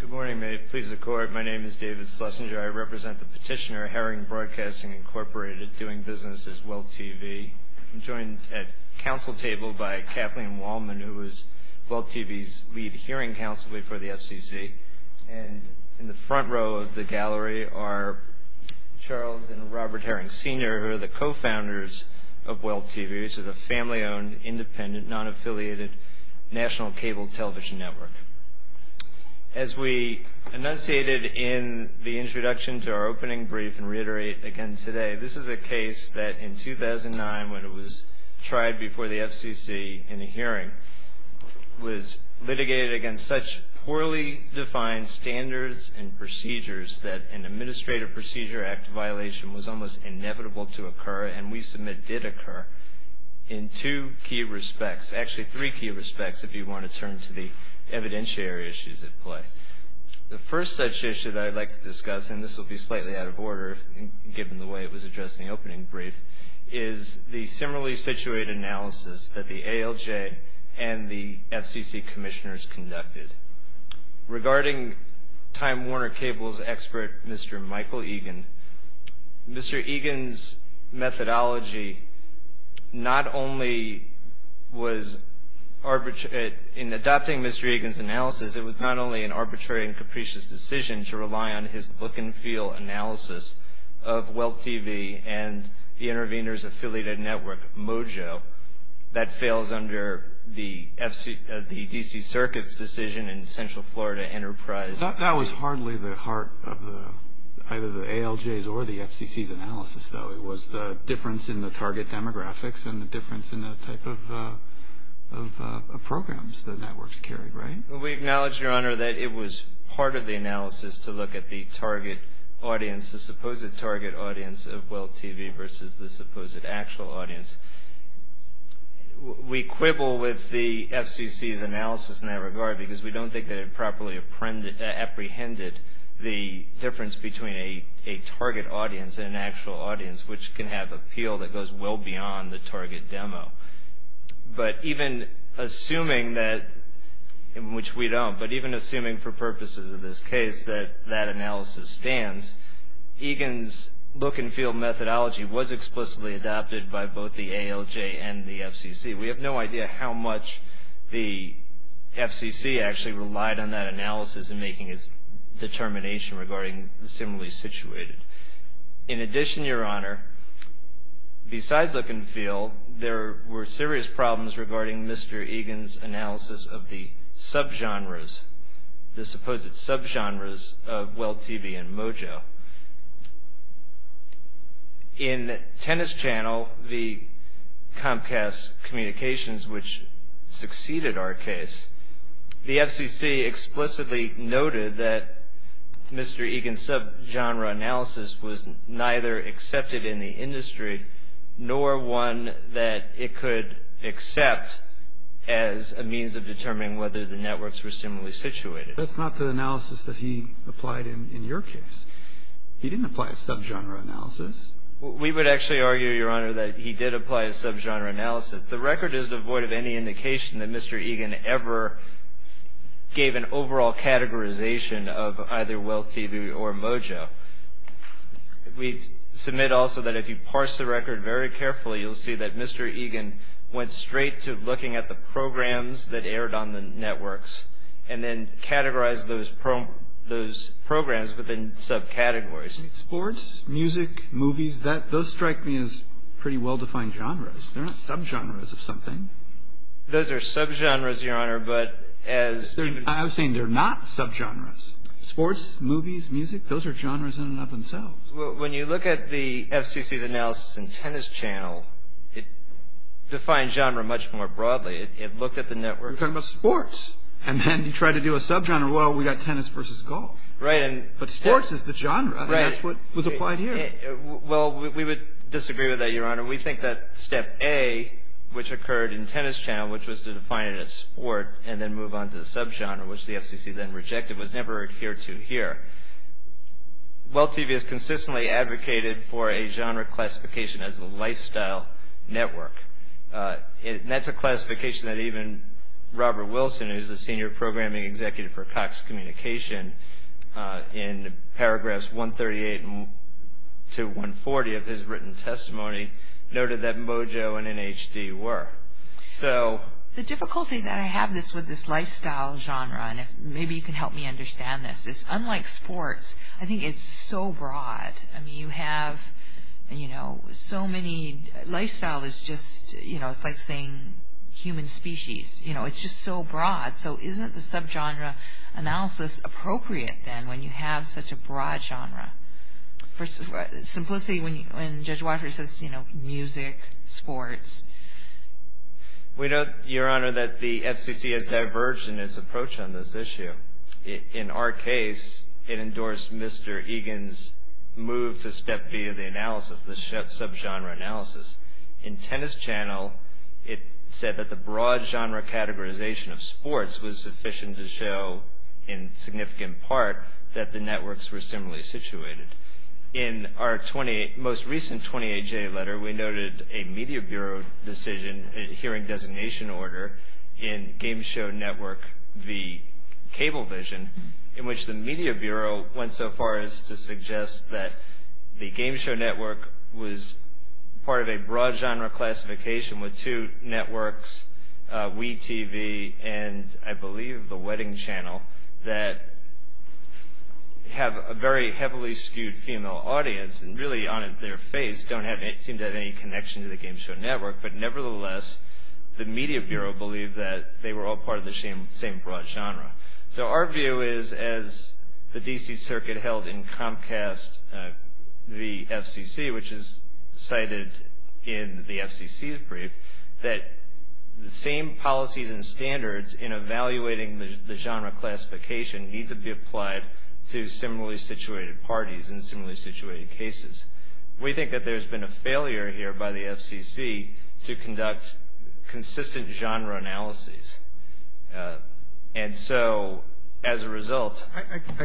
Good morning, may it please the Court. My name is David Schlesinger. I represent the petitioner, Herring Broadcasting, Inc., doing business as WEALTH TV. I'm joined at council table by Kathleen Wallman, who is WEALTH TV's lead hearing counsel before the FCC. And in the front row of the gallery are Charles and Robert Herring Sr., who are the co-founders of WEALTH TV, which is a family-owned, independent, non-affiliated national cable television network. As we enunciated in the introduction to our opening brief and reiterate again today, this is a case that in 2009, when it was tried before the FCC in a hearing, was litigated against such poorly defined standards and procedures that an Administrative Procedure Act violation was almost inevitable to occur, and we submit did occur, in two key respects. Actually, three key respects, if you want to turn to the evidentiary issues at play. The first such issue that I'd like to discuss, and this will be slightly out of order, given the way it was addressed in the opening brief, is the similarly situated analysis that the ALJ and the FCC commissioners conducted. Regarding Time Warner Cable's expert, Mr. Michael Egan, Mr. Egan's methodology not only was in adopting Mr. Egan's analysis, it was not only an arbitrary and capricious decision to rely on his book-and-feel analysis of WEALTH TV and the Interveners Affiliated Network, MOJO, that fails under the D.C. Circuit's decision in Central Florida Enterprise. That was hardly the heart of either the ALJ's or the FCC's analysis, though. It was the difference in the target demographics and the difference in the type of programs the networks carried, right? We acknowledge, Your Honor, that it was part of the analysis to look at the target audience, the supposed target audience of WEALTH TV versus the supposed actual audience. We quibble with the FCC's analysis in that regard because we don't think that it properly apprehended the difference between a target audience and an actual audience, which can have appeal that goes well beyond the target demo. But even assuming that, which we don't, but even assuming for purposes of this case that that analysis stands, Egan's look-and-feel methodology was explicitly adopted by both the ALJ and the FCC. We have no idea how much the FCC actually relied on that analysis in making its determination regarding similarly situated. In addition, Your Honor, besides look-and-feel, there were serious problems regarding Mr. Egan's analysis of the subgenres, the supposed subgenres of WEALTH TV and Mojo. In Tennis Channel, the Comcast Communications, which succeeded our case, the FCC explicitly noted that Mr. Egan's subgenre analysis was neither accepted in the industry nor one that it could accept as a means of determining whether the networks were similarly situated. That's not the analysis that he applied in your case. He didn't apply a subgenre analysis. We would actually argue, Your Honor, that he did apply a subgenre analysis. The record is devoid of any indication that Mr. Egan ever gave an overall categorization of either WEALTH TV or Mojo. We submit also that if you parse the record very carefully, you'll see that Mr. Egan went straight to looking at the programs that aired on the networks and then categorized those programs within subcategories. Sports, music, movies, those strike me as pretty well-defined genres. They're not subgenres of something. Those are subgenres, Your Honor, but as- I'm saying they're not subgenres. Sports, movies, music, those are genres in and of themselves. Well, when you look at the FCC's analysis in Tennis Channel, it defines genre much more broadly. It looked at the networks- You're talking about sports, and then you try to do a subgenre. Well, we got tennis versus golf. Right, and- But sports is the genre. Right. And that's what was applied here. Well, we would disagree with that, Your Honor. We think that step A, which occurred in Tennis Channel, which was to define it as sport and then move on to the subgenre, which the FCC then rejected, was never adhered to here. WEALTH TV has consistently advocated for a genre classification as a lifestyle network, and that's a classification that even Robert Wilson, who's the Senior Programming Executive for Cox Communication, in paragraphs 138 to 140 of his written testimony, noted that Mojo and NHD were. So- The difficulty that I have with this lifestyle genre, and maybe you can help me understand this, is unlike sports, I think it's so broad. I mean, you have, you know, so many- Lifestyle is just, you know, it's like saying human species. You know, it's just so broad. So isn't the subgenre analysis appropriate then when you have such a broad genre? For simplicity, when Judge Walker says, you know, music, sports- We note, Your Honor, that the FCC has diverged in its approach on this issue. In our case, it endorsed Mr. Egan's move to step B of the analysis, the subgenre analysis. In Tennis Channel, it said that the broad genre categorization of sports was sufficient to show, in significant part, that the networks were similarly situated. In our most recent 20HA letter, we noted a Media Bureau decision, a hearing designation order, in Game Show Network v. Cablevision, in which the Media Bureau went so far as to suggest that the Game Show Network was part of a broad genre classification with two networks, WE TV and, I believe, the Wedding Channel, that have a very heavily skewed female audience and really, on their face, don't seem to have any connection to the Game Show Network. But nevertheless, the Media Bureau believed that they were all part of the same broad genre. So our view is, as the D.C. Circuit held in Comcast v. FCC, which is cited in the FCC's brief, that the same policies and standards in evaluating the genre classification need to be applied to similarly situated parties and similarly situated cases. We think that there's been a failure here by the FCC to conduct consistent genre analyses. And so, as a result... I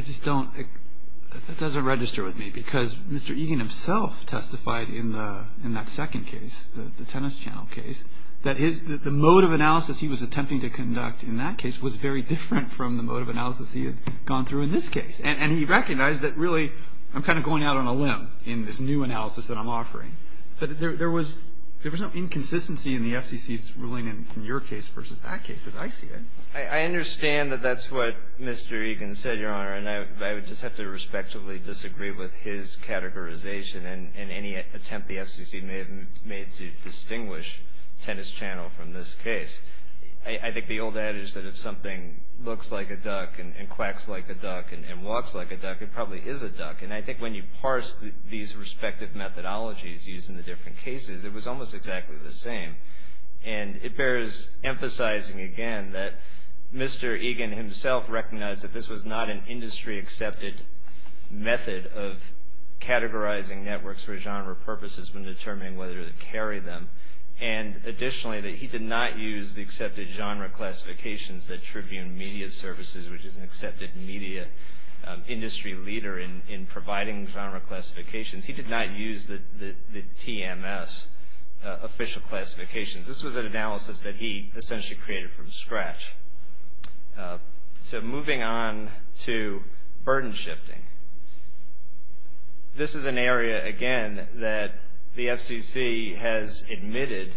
just don't... that doesn't register with me, because Mr. Egan himself testified in that second case, the Tennis Channel case, that the mode of analysis he was attempting to conduct in that case was very different from the mode of analysis he had gone through in this case. And he recognized that, really, I'm kind of going out on a limb in this new analysis that I'm offering. But there was no inconsistency in the FCC's ruling in your case versus that case, as I see it. I understand that that's what Mr. Egan said, Your Honor. And I would just have to respectively disagree with his categorization and any attempt the FCC may have made to distinguish Tennis Channel from this case. I think the old adage that if something looks like a duck and quacks like a duck and walks like a duck, it probably is a duck. And I think when you parse these respective methodologies used in the different cases, it was almost exactly the same. And it bears emphasizing, again, that Mr. Egan himself recognized that this was not an industry-accepted method of categorizing networks for genre purposes when determining whether to carry them. And, additionally, that he did not use the accepted genre classifications that Tribune Media Services, which is an accepted media industry leader, in providing genre classifications. He did not use the TMS official classifications. This was an analysis that he essentially created from scratch. So moving on to burden shifting. This is an area, again, that the FCC has admitted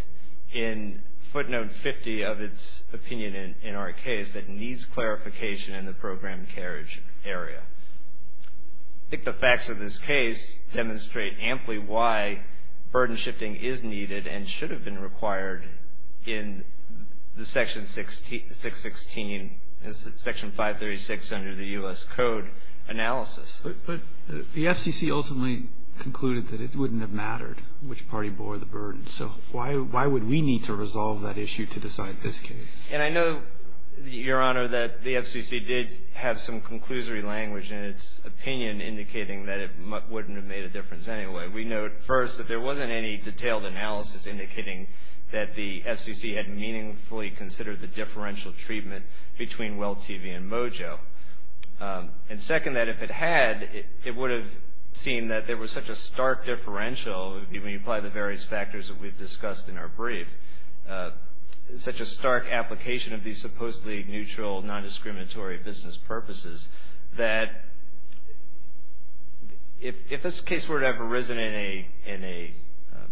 in footnote 50 of its opinion in our case that needs clarification in the program carriage area. I think the facts of this case demonstrate amply why burden shifting is needed and should have been required in the Section 616, Section 536 under the U.S. Code analysis. But the FCC ultimately concluded that it wouldn't have mattered which party bore the burden. So why would we need to resolve that issue to decide this case? And I know, Your Honor, that the FCC did have some conclusory language in its opinion indicating that it wouldn't have made a difference anyway. We note, first, that there wasn't any detailed analysis indicating that the FCC had meaningfully considered the differential treatment between WEAL-TV and Mojo. And, second, that if it had, it would have seemed that there was such a stark differential, when you apply the various factors that we've discussed in our brief, such a stark application of these supposedly neutral, non-discriminatory business purposes, that if this case were to have arisen in a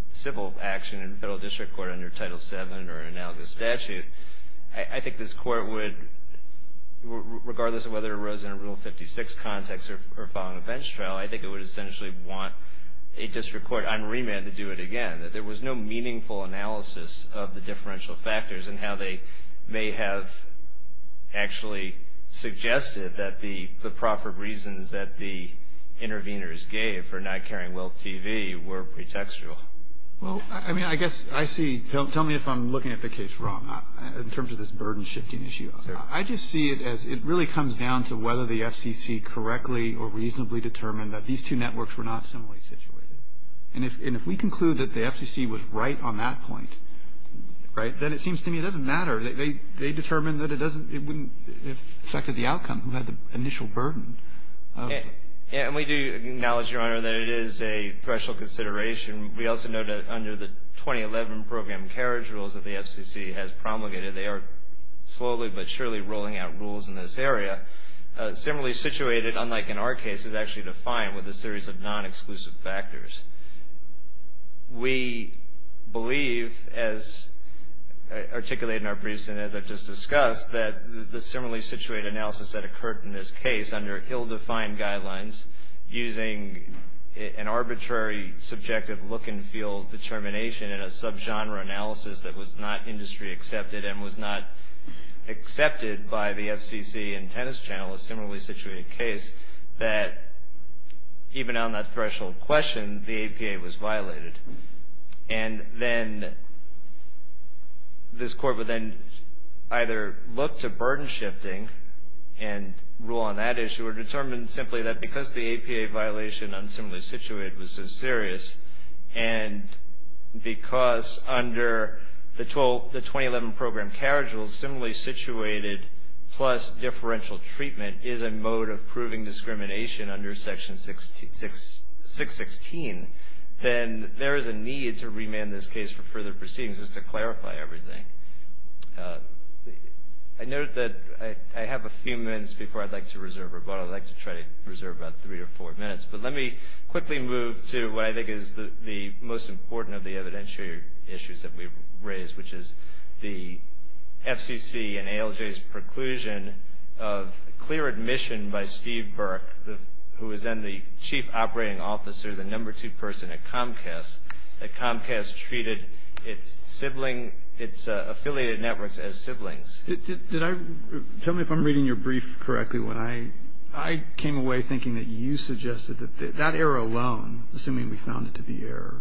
civil action in a federal district court under Title VII or an analogous statute, I think this Court would, regardless of whether it arose in a Rule 56 context or following a bench trial, I think it would essentially want a district court on remand to do it again, that there was no meaningful analysis of the differential factors and how they may have actually suggested that the proper reasons that the interveners gave for not carrying WEAL-TV were pretextual. Well, I mean, I guess I see. Tell me if I'm looking at the case wrong in terms of this burden-shifting issue. I just see it as it really comes down to whether the FCC correctly or reasonably determined that these two networks were not similarly situated. And if we conclude that the FCC was right on that point, right, then it seems to me it doesn't matter. They determined that it wouldn't have affected the outcome who had the initial burden. And we do acknowledge, Your Honor, that it is a threshold consideration. We also note that under the 2011 program carriage rules that the FCC has promulgated, they are slowly but surely rolling out rules in this area. Similarly situated, unlike in our case, is actually defined with a series of non-exclusive factors. We believe, as articulated in our briefs and as I've just discussed, that the similarly situated analysis that occurred in this case under ill-defined guidelines using an arbitrary subjective look and feel determination in a sub-genre analysis that was not industry accepted and was not accepted by the FCC and Tennis Channel, a similarly situated case, that even on that threshold question, the APA was violated. And then this Court would then either look to burden shifting and rule on that issue or determine simply that because the APA violation on similarly situated was so serious and because under the 2011 program carriage rules, similarly situated plus differential treatment is a mode of proving discrimination under Section 616, then there is a need to remand this case for further proceedings just to clarify everything. I note that I have a few minutes before I'd like to reserve, but I'd like to try to reserve about three or four minutes. But let me quickly move to what I think is the most important of the evidentiary issues that we've raised, which is the FCC and ALJ's preclusion of clear admission by Steve Burke, who was then the chief operating officer, the number two person at Comcast, that Comcast treated its affiliated networks as siblings. Tell me if I'm reading your brief correctly. I came away thinking that you suggested that that error alone, assuming we found it to be error,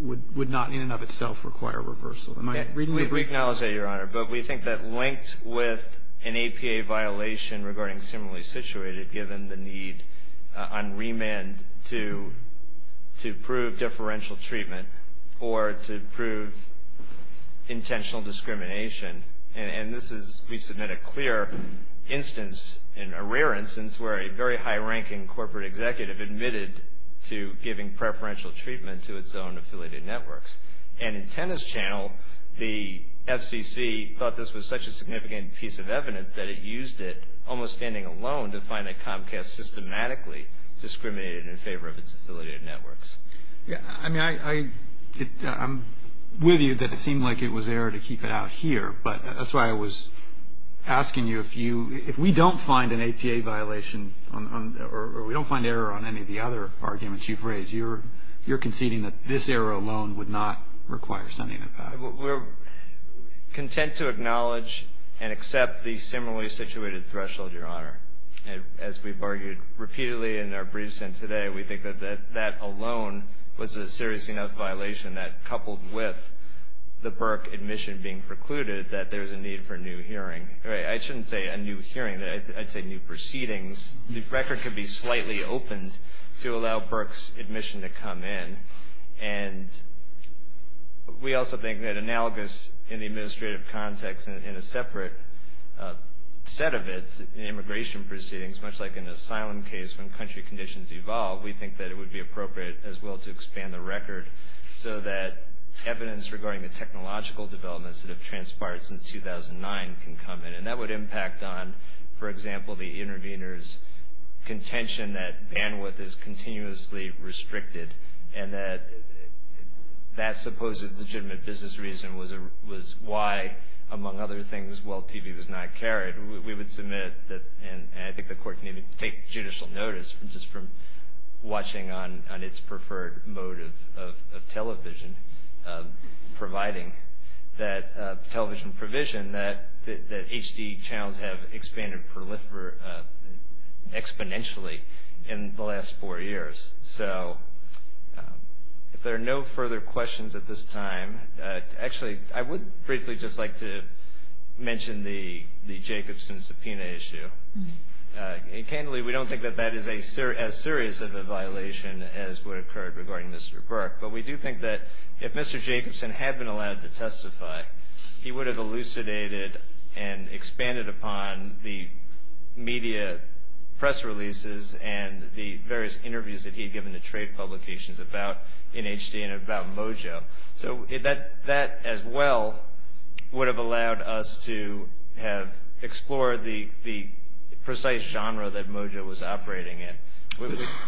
would not in and of itself require reversal. Am I reading your brief correctly? We acknowledge that, Your Honor. But we think that linked with an APA violation regarding similarly situated, given the need on remand to prove differential treatment or to prove intentional discrimination, and this is, we submit a clear instance, a rare instance, where a very high-ranking corporate executive admitted to giving preferential treatment to its own affiliated networks. And in Tennant's channel, the FCC thought this was such a significant piece of evidence that it used it almost standing alone to find that Comcast systematically discriminated in favor of its affiliated networks. I mean, I'm with you that it seemed like it was error to keep it out here, but that's why I was asking you if we don't find an APA violation or we don't find error on any of the other arguments you've raised, you're conceding that this error alone would not require sending it back. We're content to acknowledge and accept the similarly situated threshold, Your Honor. As we've argued repeatedly in our briefs and today, we think that that alone was a serious enough violation that, coupled with the Burke admission being precluded, that there's a need for a new hearing. I shouldn't say a new hearing. I'd say new proceedings. The record could be slightly opened to allow Burke's admission to come in. And we also think that analogous in the administrative context and in a separate set of it in immigration proceedings, much like an asylum case when country conditions evolve, we think that it would be appropriate as well to expand the record so that evidence regarding the technological developments that have transpired since 2009 can come in. And that would impact on, for example, the interveners' contention that bandwidth is continuously restricted and that that supposed legitimate business reason was why, among other things, while TV was not carried, we would submit that, and I think the Court can even take judicial notice just from watching on its preferred mode of television, providing that television provision that HD channels have expanded exponentially in the last four years. So if there are no further questions at this time, actually I would briefly just like to mention the Jacobson subpoena issue. Candidly, we don't think that that is as serious of a violation as would occur regarding Mr. Burke, but we do think that if Mr. Jacobson had been allowed to testify, he would have elucidated and expanded upon the media press releases and the various interviews that he had given to trade publications about NHD and about Mojo. So that as well would have allowed us to have explored the precise genre that Mojo was operating in.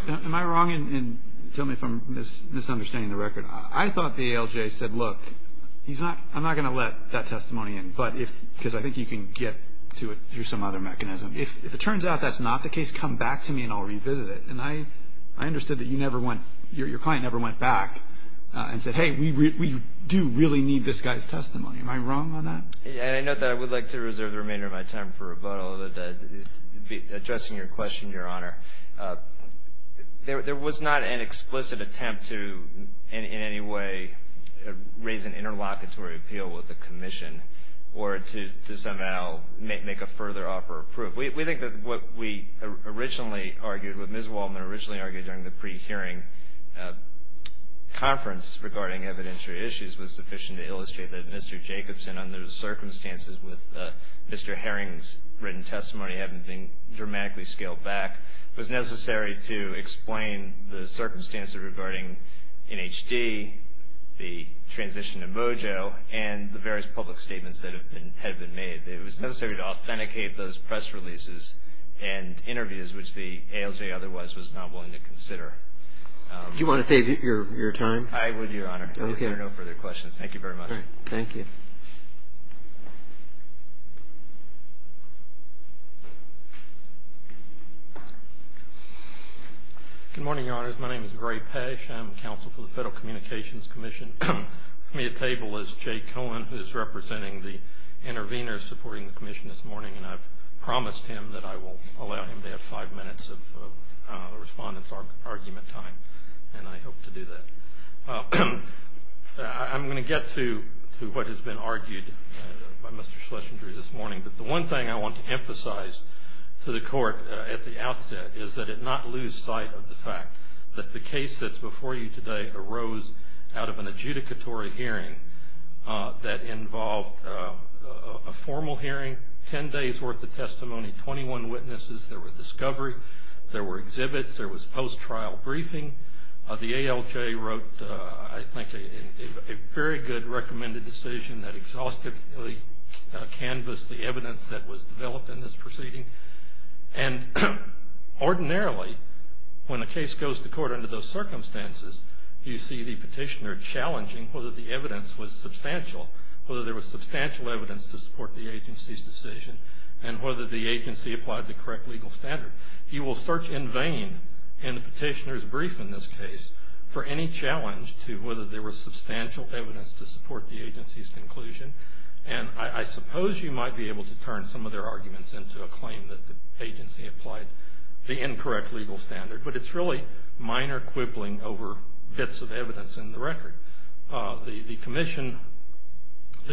Am I wrong, and tell me if I'm misunderstanding the record? I thought the ALJ said, look, I'm not going to let that testimony in, because I think you can get to it through some other mechanism. If it turns out that's not the case, come back to me and I'll revisit it. And I understood that your client never went back and said, hey, we do really need this guy's testimony. Am I wrong on that? I note that I would like to reserve the remainder of my time for rebuttal. Addressing your question, Your Honor, there was not an explicit attempt to in any way raise an interlocutory appeal with the commission or to somehow make a further offer of proof. We think that what we originally argued, what Ms. Waldman originally argued during the pre-hearing conference regarding evidentiary issues was sufficient to illustrate that Mr. Jacobson, under the circumstances with Mr. Herring's written testimony having been dramatically scaled back, was necessary to explain the circumstances regarding NHD, the transition to Mojo, and the various public statements that had been made. It was necessary to authenticate those press releases and interviews, which the ALJ otherwise was not willing to consider. Do you want to save your time? I would, Your Honor. Okay. There are no further questions. Thank you very much. Thank you. Good morning, Your Honors. My name is Gray Pash. I'm counsel for the Federal Communications Commission. With me at table is Jay Cohen, who is representing the intervenors supporting the commission this morning, and I've promised him that I will allow him to have five minutes of the respondent's argument time, and I hope to do that. I'm going to get to what has been argued by Mr. Schlesinger this morning, but the one thing I want to emphasize to the court at the outset is that it not lose sight of the fact that the case that's before you today arose out of an adjudicatory hearing that involved a formal hearing, ten days' worth of testimony, 21 witnesses. There were discovery. There were exhibits. There was post-trial briefing. The ALJ wrote, I think, a very good recommended decision that exhaustively canvassed the evidence that was developed in this proceeding, and ordinarily when a case goes to court under those circumstances, you see the petitioner challenging whether the evidence was substantial, whether there was substantial evidence to support the agency's decision, and whether the agency applied the correct legal standard. You will search in vain in the petitioner's brief in this case for any challenge to whether there was substantial evidence to support the agency's conclusion, and I suppose you might be able to turn some of their arguments into a claim that the agency applied the incorrect legal standard, but it's really minor quibbling over bits of evidence in the record. The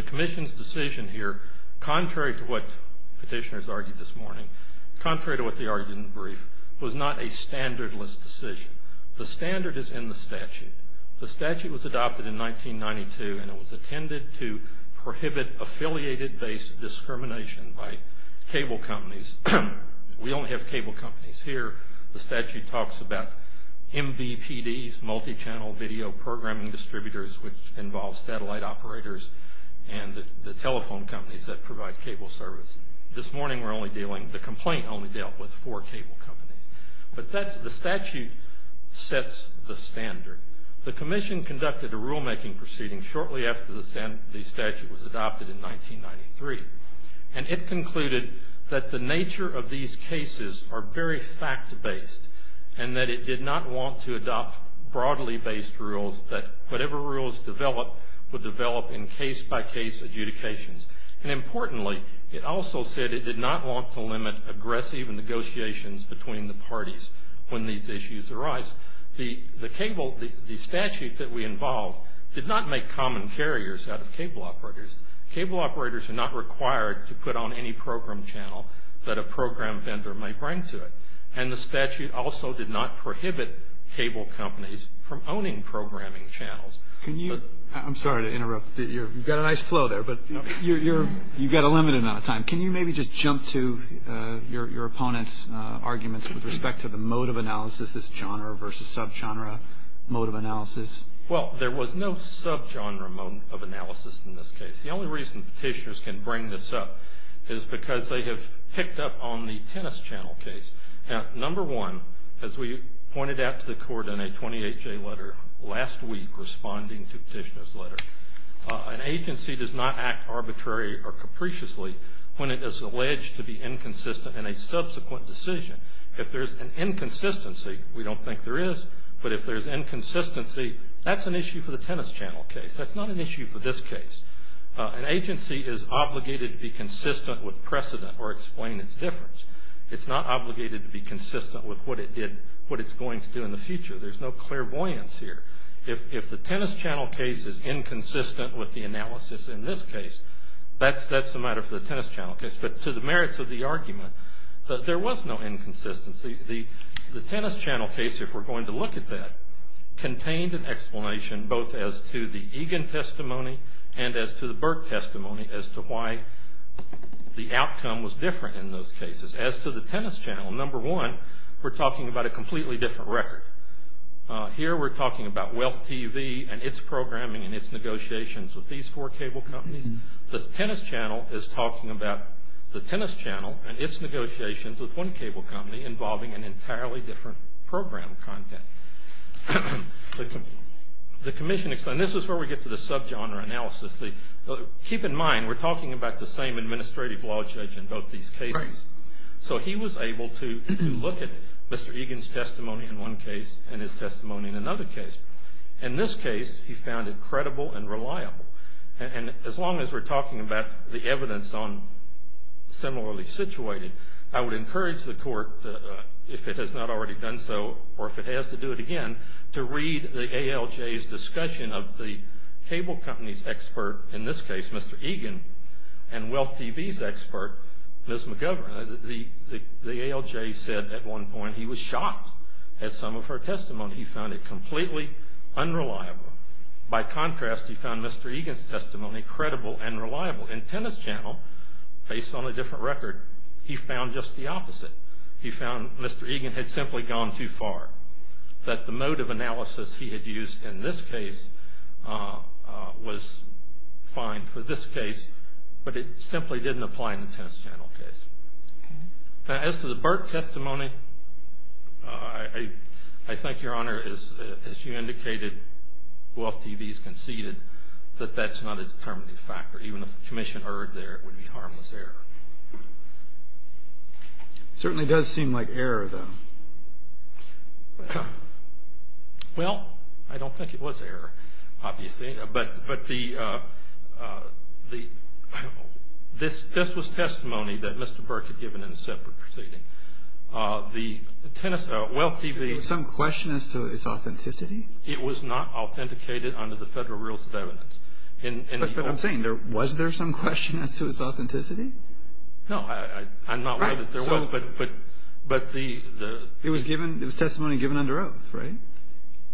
commission's decision here, contrary to what petitioners argued this morning, contrary to what they argued in the brief, was not a standardless decision. The standard is in the statute. The statute was adopted in 1992, and it was intended to prohibit affiliated-based discrimination by cable companies. We only have cable companies here. The statute talks about MVPDs, Multichannel Video Programming Distributors, which involves satellite operators and the telephone companies that provide cable service. This morning we're only dealing, the complaint only dealt with four cable companies. But the statute sets the standard. The commission conducted a rulemaking proceeding shortly after the statute was adopted in 1993, and it concluded that the nature of these cases are very fact-based, and that it did not want to adopt broadly based rules that whatever rules developed would develop in case-by-case adjudications. And importantly, it also said it did not want to limit aggressive negotiations between the parties when these issues arise. The statute that we involved did not make common carriers out of cable operators. Cable operators are not required to put on any program channel that a program vendor may bring to it. And the statute also did not prohibit cable companies from owning programming channels. I'm sorry to interrupt. You've got a nice flow there, but you've got a limited amount of time. Can you maybe just jump to your opponent's arguments with respect to the mode of analysis, this genre versus sub-genre mode of analysis? Well, there was no sub-genre mode of analysis in this case. The only reason petitioners can bring this up is because they have picked up on the Tennis Channel case. Now, number one, as we pointed out to the Court in a 28-J letter last week responding to Petitioner's letter, an agency does not act arbitrary or capriciously when it is alleged to be inconsistent in a subsequent decision. If there's an inconsistency, we don't think there is, but if there's inconsistency, that's an issue for the Tennis Channel case. That's not an issue for this case. An agency is obligated to be consistent with precedent or explain its difference. It's not obligated to be consistent with what it did, what it's going to do in the future. There's no clairvoyance here. If the Tennis Channel case is inconsistent with the analysis in this case, that's a matter for the Tennis Channel case. But to the merits of the argument, there was no inconsistency. The Tennis Channel case, if we're going to look at that, contained an explanation both as to the Egan testimony and as to the Burke testimony as to why the outcome was different in those cases. As to the Tennis Channel, number one, we're talking about a completely different record. Here we're talking about Wealth TV and its programming and its negotiations with these four cable companies. The Tennis Channel is talking about the Tennis Channel and its negotiations with one cable company involving an entirely different program content. This is where we get to the sub-genre analysis. Keep in mind, we're talking about the same administrative law judge in both these cases. He was able to look at Mr. Egan's testimony in one case and his testimony in another case. In this case, he found it credible and reliable. As long as we're talking about the evidence on similarly situated, I would encourage the court, if it has not already done so or if it has to do it again, to read the ALJ's discussion of the cable company's expert, in this case, Mr. Egan, and Wealth TV's expert, Ms. McGovern. The ALJ said at one point he was shocked at some of her testimony. He found it completely unreliable. By contrast, he found Mr. Egan's testimony credible and reliable. In Tennis Channel, based on a different record, he found just the opposite. He found Mr. Egan had simply gone too far, that the mode of analysis he had used in this case was fine for this case, but it simply didn't apply in the Tennis Channel case. As to the Burke testimony, I think, Your Honor, as you indicated, Wealth TV's conceded that that's not a determinative factor. Even if the commission erred there, it would be harmless error. It certainly does seem like error, though. Well, I don't think it was error, obviously. But this was testimony that Mr. Burke had given in a separate proceeding. The tennis – Wealth TV – Is there some question as to its authenticity? It was not authenticated under the Federal Rules of Evidence. But I'm saying, was there some question as to its authenticity? No, I'm not aware that there was, but the – It was testimony given under oath, right?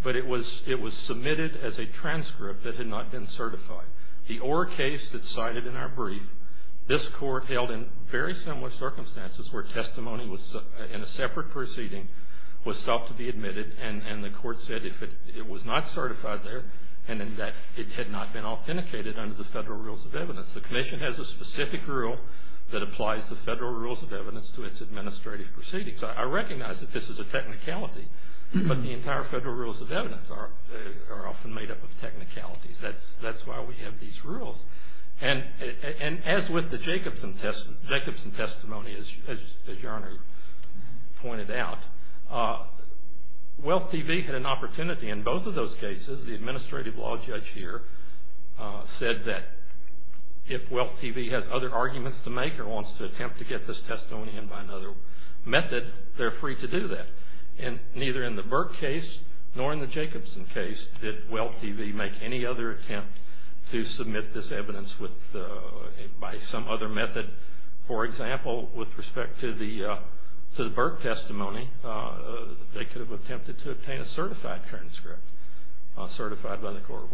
But it was submitted as a transcript that had not been certified. The Orr case that's cited in our brief, this Court held in very similar circumstances where testimony in a separate proceeding was thought to be admitted, and the Court said it was not certified there and that it had not been authenticated under the Federal Rules of Evidence. The commission has a specific rule that applies the Federal Rules of Evidence to its administrative proceedings. I recognize that this is a technicality, but the entire Federal Rules of Evidence are often made up of technicalities. That's why we have these rules. And as with the Jacobson testimony, as Your Honor pointed out, WEALTH TV had an opportunity in both of those cases. The administrative law judge here said that if WEALTH TV has other arguments to make or wants to attempt to get this testimony in by another method, they're free to do that. And neither in the Burke case nor in the Jacobson case did WEALTH TV make any other attempt to submit this evidence by some other method. For example, with respect to the Burke testimony, they could have attempted to obtain a certified transcript, certified by the Court.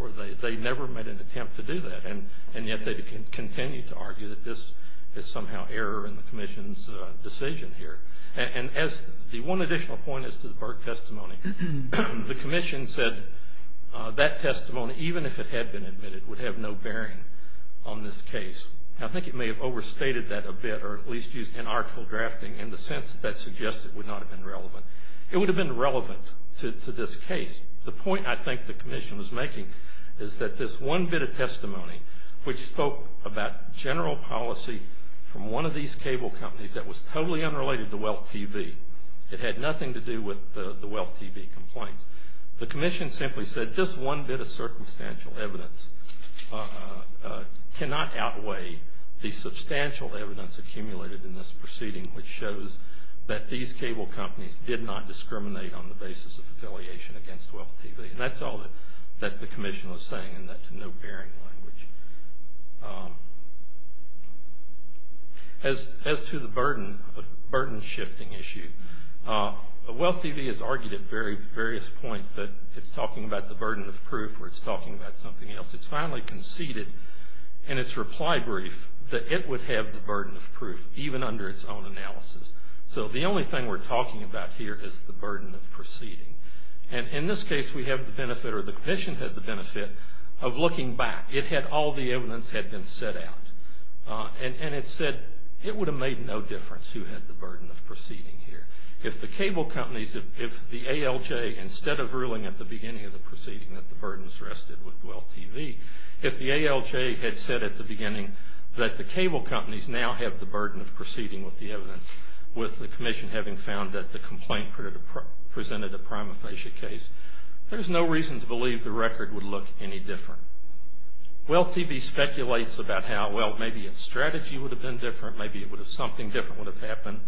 They never made an attempt to do that, and yet they continue to argue that this is somehow error in the commission's decision here. And as the one additional point as to the Burke testimony, the commission said that testimony, even if it had been admitted, would have no bearing on this case. I think it may have overstated that a bit or at least used inartful drafting in the sense that that suggested it would not have been relevant. It would have been relevant to this case. The point I think the commission was making is that this one bit of testimony, which spoke about general policy from one of these cable companies that was totally unrelated to WEALTH TV. It had nothing to do with the WEALTH TV complaints. The commission simply said just one bit of circumstantial evidence cannot outweigh the substantial evidence accumulated in this proceeding, which shows that these cable companies did not discriminate on the basis of affiliation against WEALTH TV. And that's all that the commission was saying in that no bearing language. As to the burden shifting issue, WEALTH TV has argued at various points that it's talking about the burden of proof or it's talking about something else. It's finally conceded in its reply brief that it would have the burden of proof, even under its own analysis. So the only thing we're talking about here is the burden of proceeding. And in this case, we have the benefit or the commission had the benefit of looking back. It had all the evidence had been set out. And it said it would have made no difference who had the burden of proceeding here. If the cable companies, if the ALJ, instead of ruling at the beginning of the proceeding that the burden was rested with WEALTH TV, if the ALJ had said at the beginning that the cable companies now have the burden of proceeding with the evidence with the commission having found that the complaint presented a prima facie case, there's no reason to believe the record would look any different. WEALTH TV speculates about how, well, maybe its strategy would have been different. Maybe something different would have happened.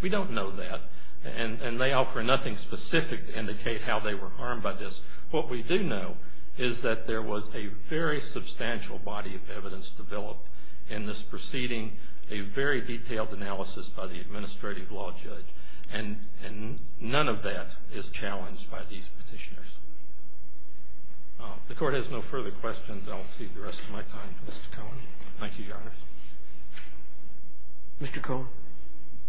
We don't know that. And they offer nothing specific to indicate how they were harmed by this. What we do know is that there was a very substantial body of evidence developed in this proceeding, a very detailed analysis by the administrative law judge. And none of that is challenged by these petitioners. The Court has no further questions. I'll cede the rest of my time to Mr. Cohen. Thank you, Your Honor. Mr. Cohen.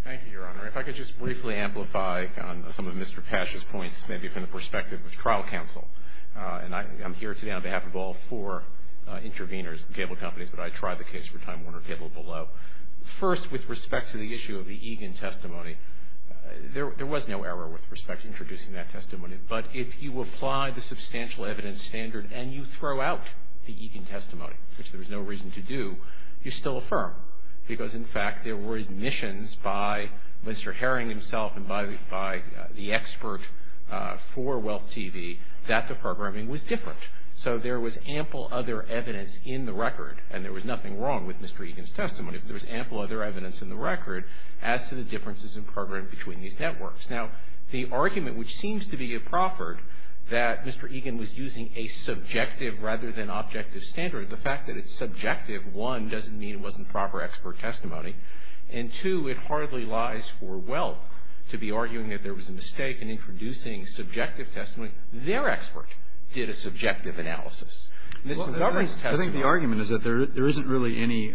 Thank you, Your Honor. If I could just briefly amplify on some of Mr. Pash's points, maybe from the perspective of trial counsel. And I'm here today on behalf of all four intervenors, the cable companies, but I tried the case for Time Warner Cable below. First, with respect to the issue of the Egan testimony, there was no error with respect to introducing that testimony. But if you apply the substantial evidence standard and you throw out the Egan testimony, which there was no reason to do, you still affirm because, in fact, there were admissions by Mr. Herring himself and by the expert for Wealth TV that the programming was different. So there was ample other evidence in the record, and there was nothing wrong with Mr. Egan's testimony, but there was ample other evidence in the record as to the differences in programming between these networks. Now, the argument, which seems to be a proffered, that Mr. Egan was using a subjective rather than objective standard, the fact that it's subjective, one, doesn't mean it wasn't proper expert testimony, and, two, it hardly lies for Wealth to be arguing that there was a mistake in introducing subjective testimony. Their expert did a subjective analysis. Mr. Governor's testimony. I think the argument is that there isn't really any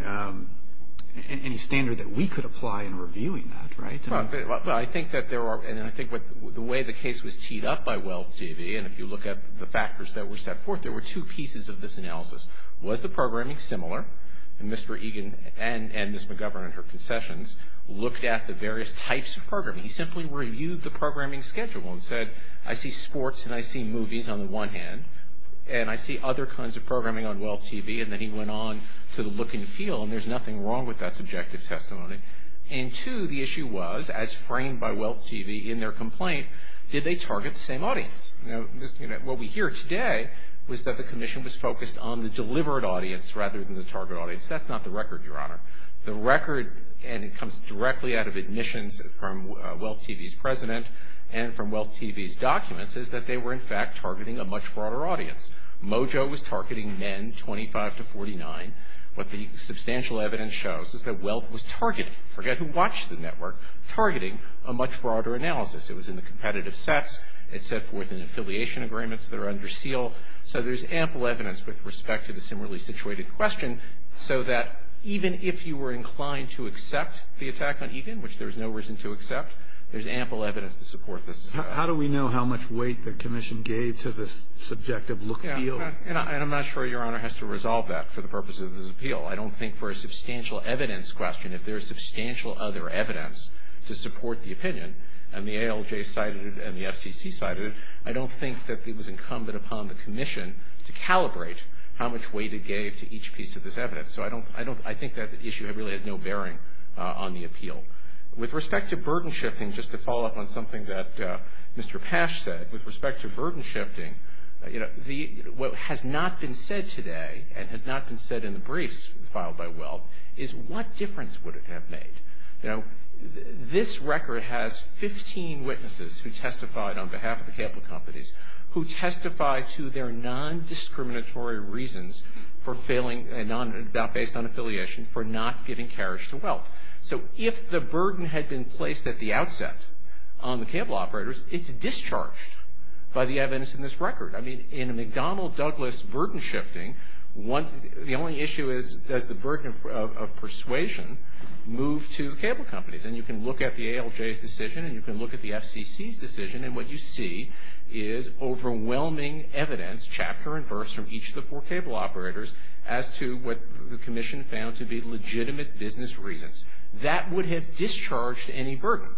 standard that we could apply in reviewing that, right? Well, I think that there are, and I think the way the case was teed up by Wealth TV, and if you look at the factors that were set forth, there were two pieces of this analysis. Was the programming similar? And Mr. Egan and Ms. McGovern in her concessions looked at the various types of programming. He simply reviewed the programming schedule and said, I see sports and I see movies on the one hand, and I see other kinds of programming on Wealth TV, and then he went on to the look and feel, and there's nothing wrong with that subjective testimony. And, two, the issue was, as framed by Wealth TV in their complaint, did they target the same audience? What we hear today was that the commission was focused on the delivered audience rather than the target audience. That's not the record, Your Honor. The record, and it comes directly out of admissions from Wealth TV's president and from Wealth TV's documents, is that they were, in fact, targeting a much broader audience. Mojo was targeting men 25 to 49. What the substantial evidence shows is that Wealth was targeting, forget who watched the network, targeting a much broader analysis. It was in the competitive sets. It set forth an affiliation agreements that are under seal. So there's ample evidence with respect to the similarly situated question so that even if you were inclined to accept the attack on Egan, which there was no reason to accept, there's ample evidence to support this. How do we know how much weight the commission gave to this subjective look and feel? And I'm not sure Your Honor has to resolve that for the purpose of this appeal. I don't think for a substantial evidence question, if there's substantial other evidence to support the opinion, and the ALJ cited it and the FCC cited it, I don't think that it was incumbent upon the commission to calibrate how much weight it gave to each piece of this evidence. So I think that issue really has no bearing on the appeal. With respect to burden shifting, just to follow up on something that Mr. Pash said, with respect to burden shifting, what has not been said today and has not been said in the briefs filed by Wealth is what difference would it have made? This record has 15 witnesses who testified on behalf of the cable companies who testified to their non-discriminatory reasons based on affiliation for not giving carriage to Wealth. So if the burden had been placed at the outset on the cable operators, it's discharged by the evidence in this record. I mean in a McDonnell-Douglas burden shifting, the only issue is does the burden of persuasion move to cable companies? And you can look at the ALJ's decision and you can look at the FCC's decision from each of the four cable operators as to what the commission found to be legitimate business reasons. That would have discharged any burden.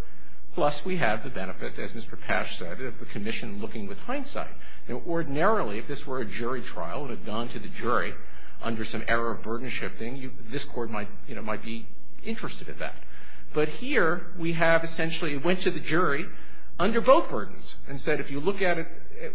Plus, we have the benefit, as Mr. Pash said, of the commission looking with hindsight. Now, ordinarily, if this were a jury trial and had gone to the jury under some error of burden shifting, this Court might, you know, might be interested in that. But here we have essentially went to the jury under both burdens and said if you look at it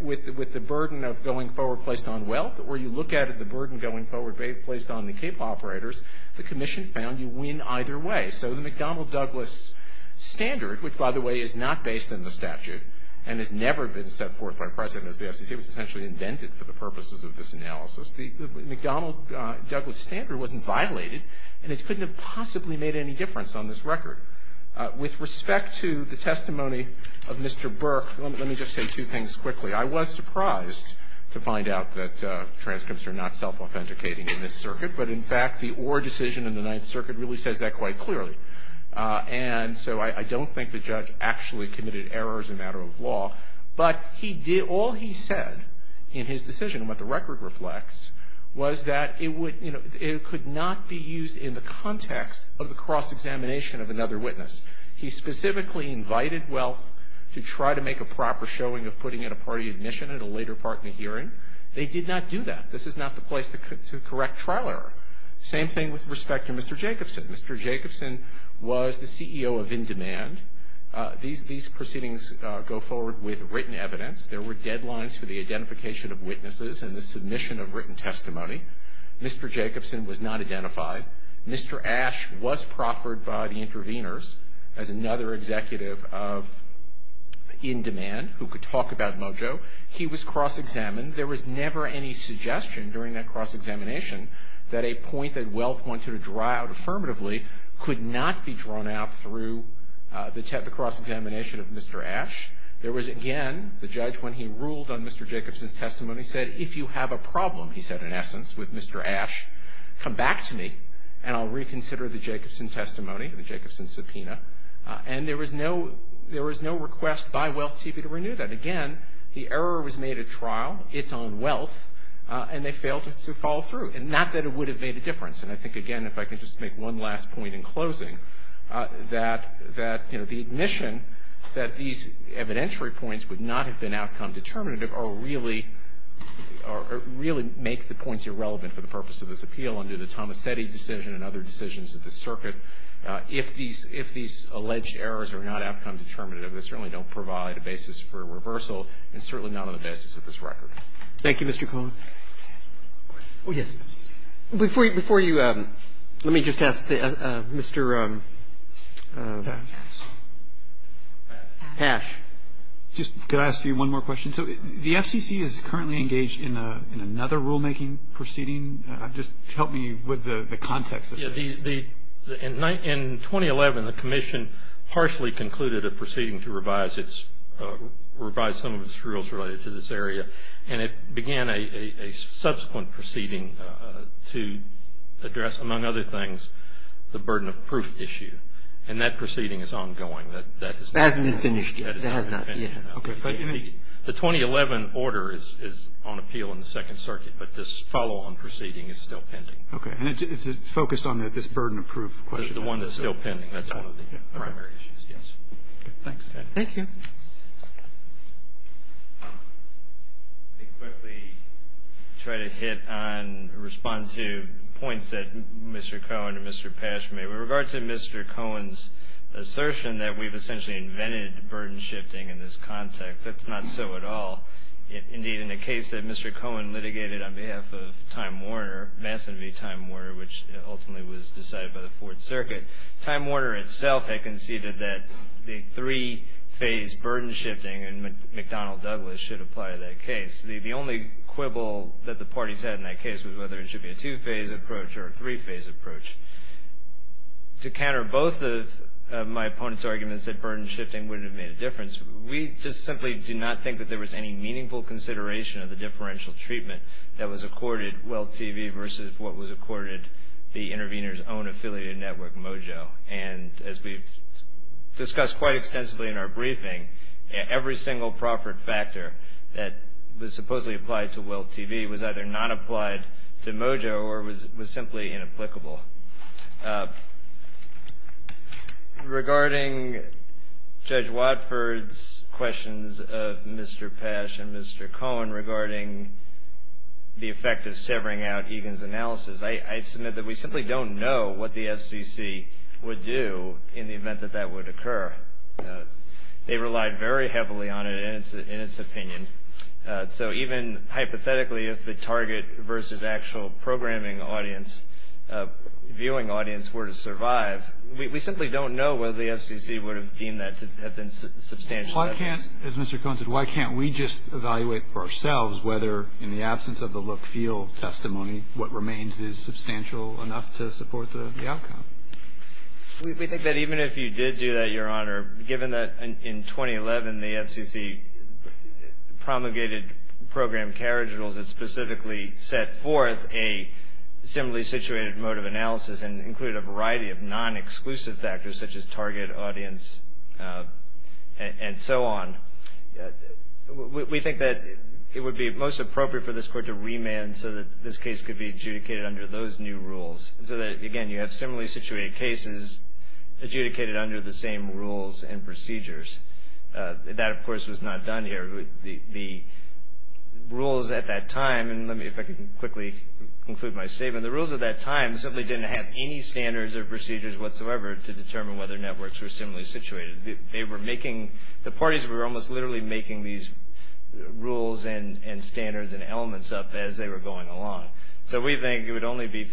with the burden of going forward placed on Wealth or you look at it the burden going forward placed on the cable operators, the commission found you win either way. So the McDonnell-Douglas standard, which, by the way, is not based on the statute and has never been set forth by precedent as the FCC, was essentially invented for the purposes of this analysis. The McDonnell-Douglas standard wasn't violated, and it couldn't have possibly made any difference on this record. With respect to the testimony of Mr. Burke, let me just say two things quickly. I was surprised to find out that transcripts are not self-authenticating in this circuit. But, in fact, the Orr decision in the Ninth Circuit really says that quite clearly. And so I don't think the judge actually committed errors in a matter of law. But he did all he said in his decision, what the record reflects, was that it would not be used in the context of the cross-examination of another witness. He specifically invited Wealth to try to make a proper showing of putting in a party admission at a later part in a hearing. They did not do that. This is not the place to correct trial error. Same thing with respect to Mr. Jacobson. Mr. Jacobson was the CEO of In Demand. These proceedings go forward with written evidence. There were deadlines for the identification of witnesses and the submission of written testimony. Mr. Jacobson was not identified. Mr. Ash was proffered by the interveners as another executive of In Demand who could talk about Mojo. He was cross-examined. There was never any suggestion during that cross-examination that a point that Wealth wanted to draw out affirmatively could not be drawn out through the cross-examination of Mr. Ash. There was, again, the judge, when he ruled on Mr. Jacobson's testimony, said, if you have a problem, he said, in essence, with Mr. Ash, come back to me and I'll reconsider the Jacobson testimony, the Jacobson subpoena. And there was no request by Wealth TV to renew that. Again, the error was made at trial, its own Wealth, and they failed to follow through, not that it would have made a difference. And I think, again, if I could just make one last point in closing, that the admission that these evidentiary points would not have been outcome determinative are really make the points irrelevant for the purpose of this appeal under the Tomasetti decision and other decisions of the circuit. If these alleged errors are not outcome determinative, they certainly don't provide a basis for reversal, and certainly not on the basis of this record. Roberts. Thank you, Mr. Cohen. Oh, yes. Before you let me just ask Mr. Pash. Could I ask you one more question? So the FCC is currently engaged in another rulemaking proceeding. Just help me with the context of this. In 2011, the commission harshly concluded a proceeding to revise some of its rules related to this area, and it began a subsequent proceeding to address, among other things, the burden of proof issue. And that proceeding is ongoing. It hasn't been finished yet. It has not. The 2011 order is on appeal in the Second Circuit, but this follow-on proceeding is still pending. Okay. And it's focused on this burden of proof question? The one that's still pending. That's one of the primary issues, yes. Okay. Thanks. Thank you. Let me quickly try to hit on, respond to points that Mr. Cohen and Mr. Pash made. With regard to Mr. Cohen's assertion that we've essentially invented burden shifting in this context, that's not so at all. Indeed, in the case that Mr. Cohen litigated on behalf of Time Warner, Masson v. Time Warner, which ultimately was decided by the Fourth Circuit, Time Warner itself had conceded that the three-phase burden shifting in McDonnell Douglas should apply to that case. The only quibble that the parties had in that case was whether it should be a To counter both of my opponent's arguments that burden shifting wouldn't have made a difference, we just simply do not think that there was any meaningful consideration of the differential treatment that was accorded WEALTH TV versus what was accorded the intervener's own affiliated network, Mojo. And as we've discussed quite extensively in our briefing, every single proffered factor that was supposedly applied to WEALTH TV was either not applied to Mojo or was simply inapplicable. Regarding Judge Watford's questions of Mr. Pash and Mr. Cohen regarding the effect of severing out Egan's analysis, I submit that we simply don't know what the FCC would do in the event that that would occur. They relied very heavily on it in its opinion. So even hypothetically, if the target versus actual programming audience, viewing audience were to survive, we simply don't know whether the FCC would have deemed that to have been substantial evidence. Why can't, as Mr. Cohen said, why can't we just evaluate for ourselves whether in the absence of the look-feel testimony, what remains is substantial enough to support the outcome? We think that even if you did do that, Your Honor, given that in 2011 the FCC promulgated program carriage rules that specifically set forth a similarly situated mode of analysis and included a variety of non-exclusive factors such as target audience and so on, we think that it would be most appropriate for this Court to remand so that this case could be adjudicated under the same rules and procedures. That, of course, was not done here. The rules at that time, and let me, if I can quickly conclude my statement. The rules at that time simply didn't have any standards or procedures whatsoever to determine whether networks were similarly situated. They were making, the parties were almost literally making these rules and standards and elements up as they were going along. So we think it would only be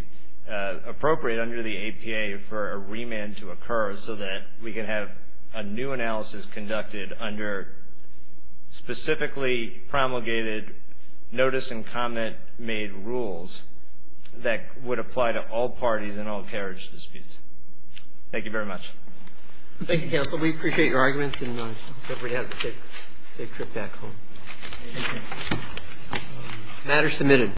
appropriate under the APA for a remand to occur so that we can have a new analysis conducted under specifically promulgated notice and comment made rules that would apply to all parties in all carriage disputes. Thank you very much. Thank you, Counsel. We appreciate your arguments and I hope everybody has a safe trip back home. The matter is submitted.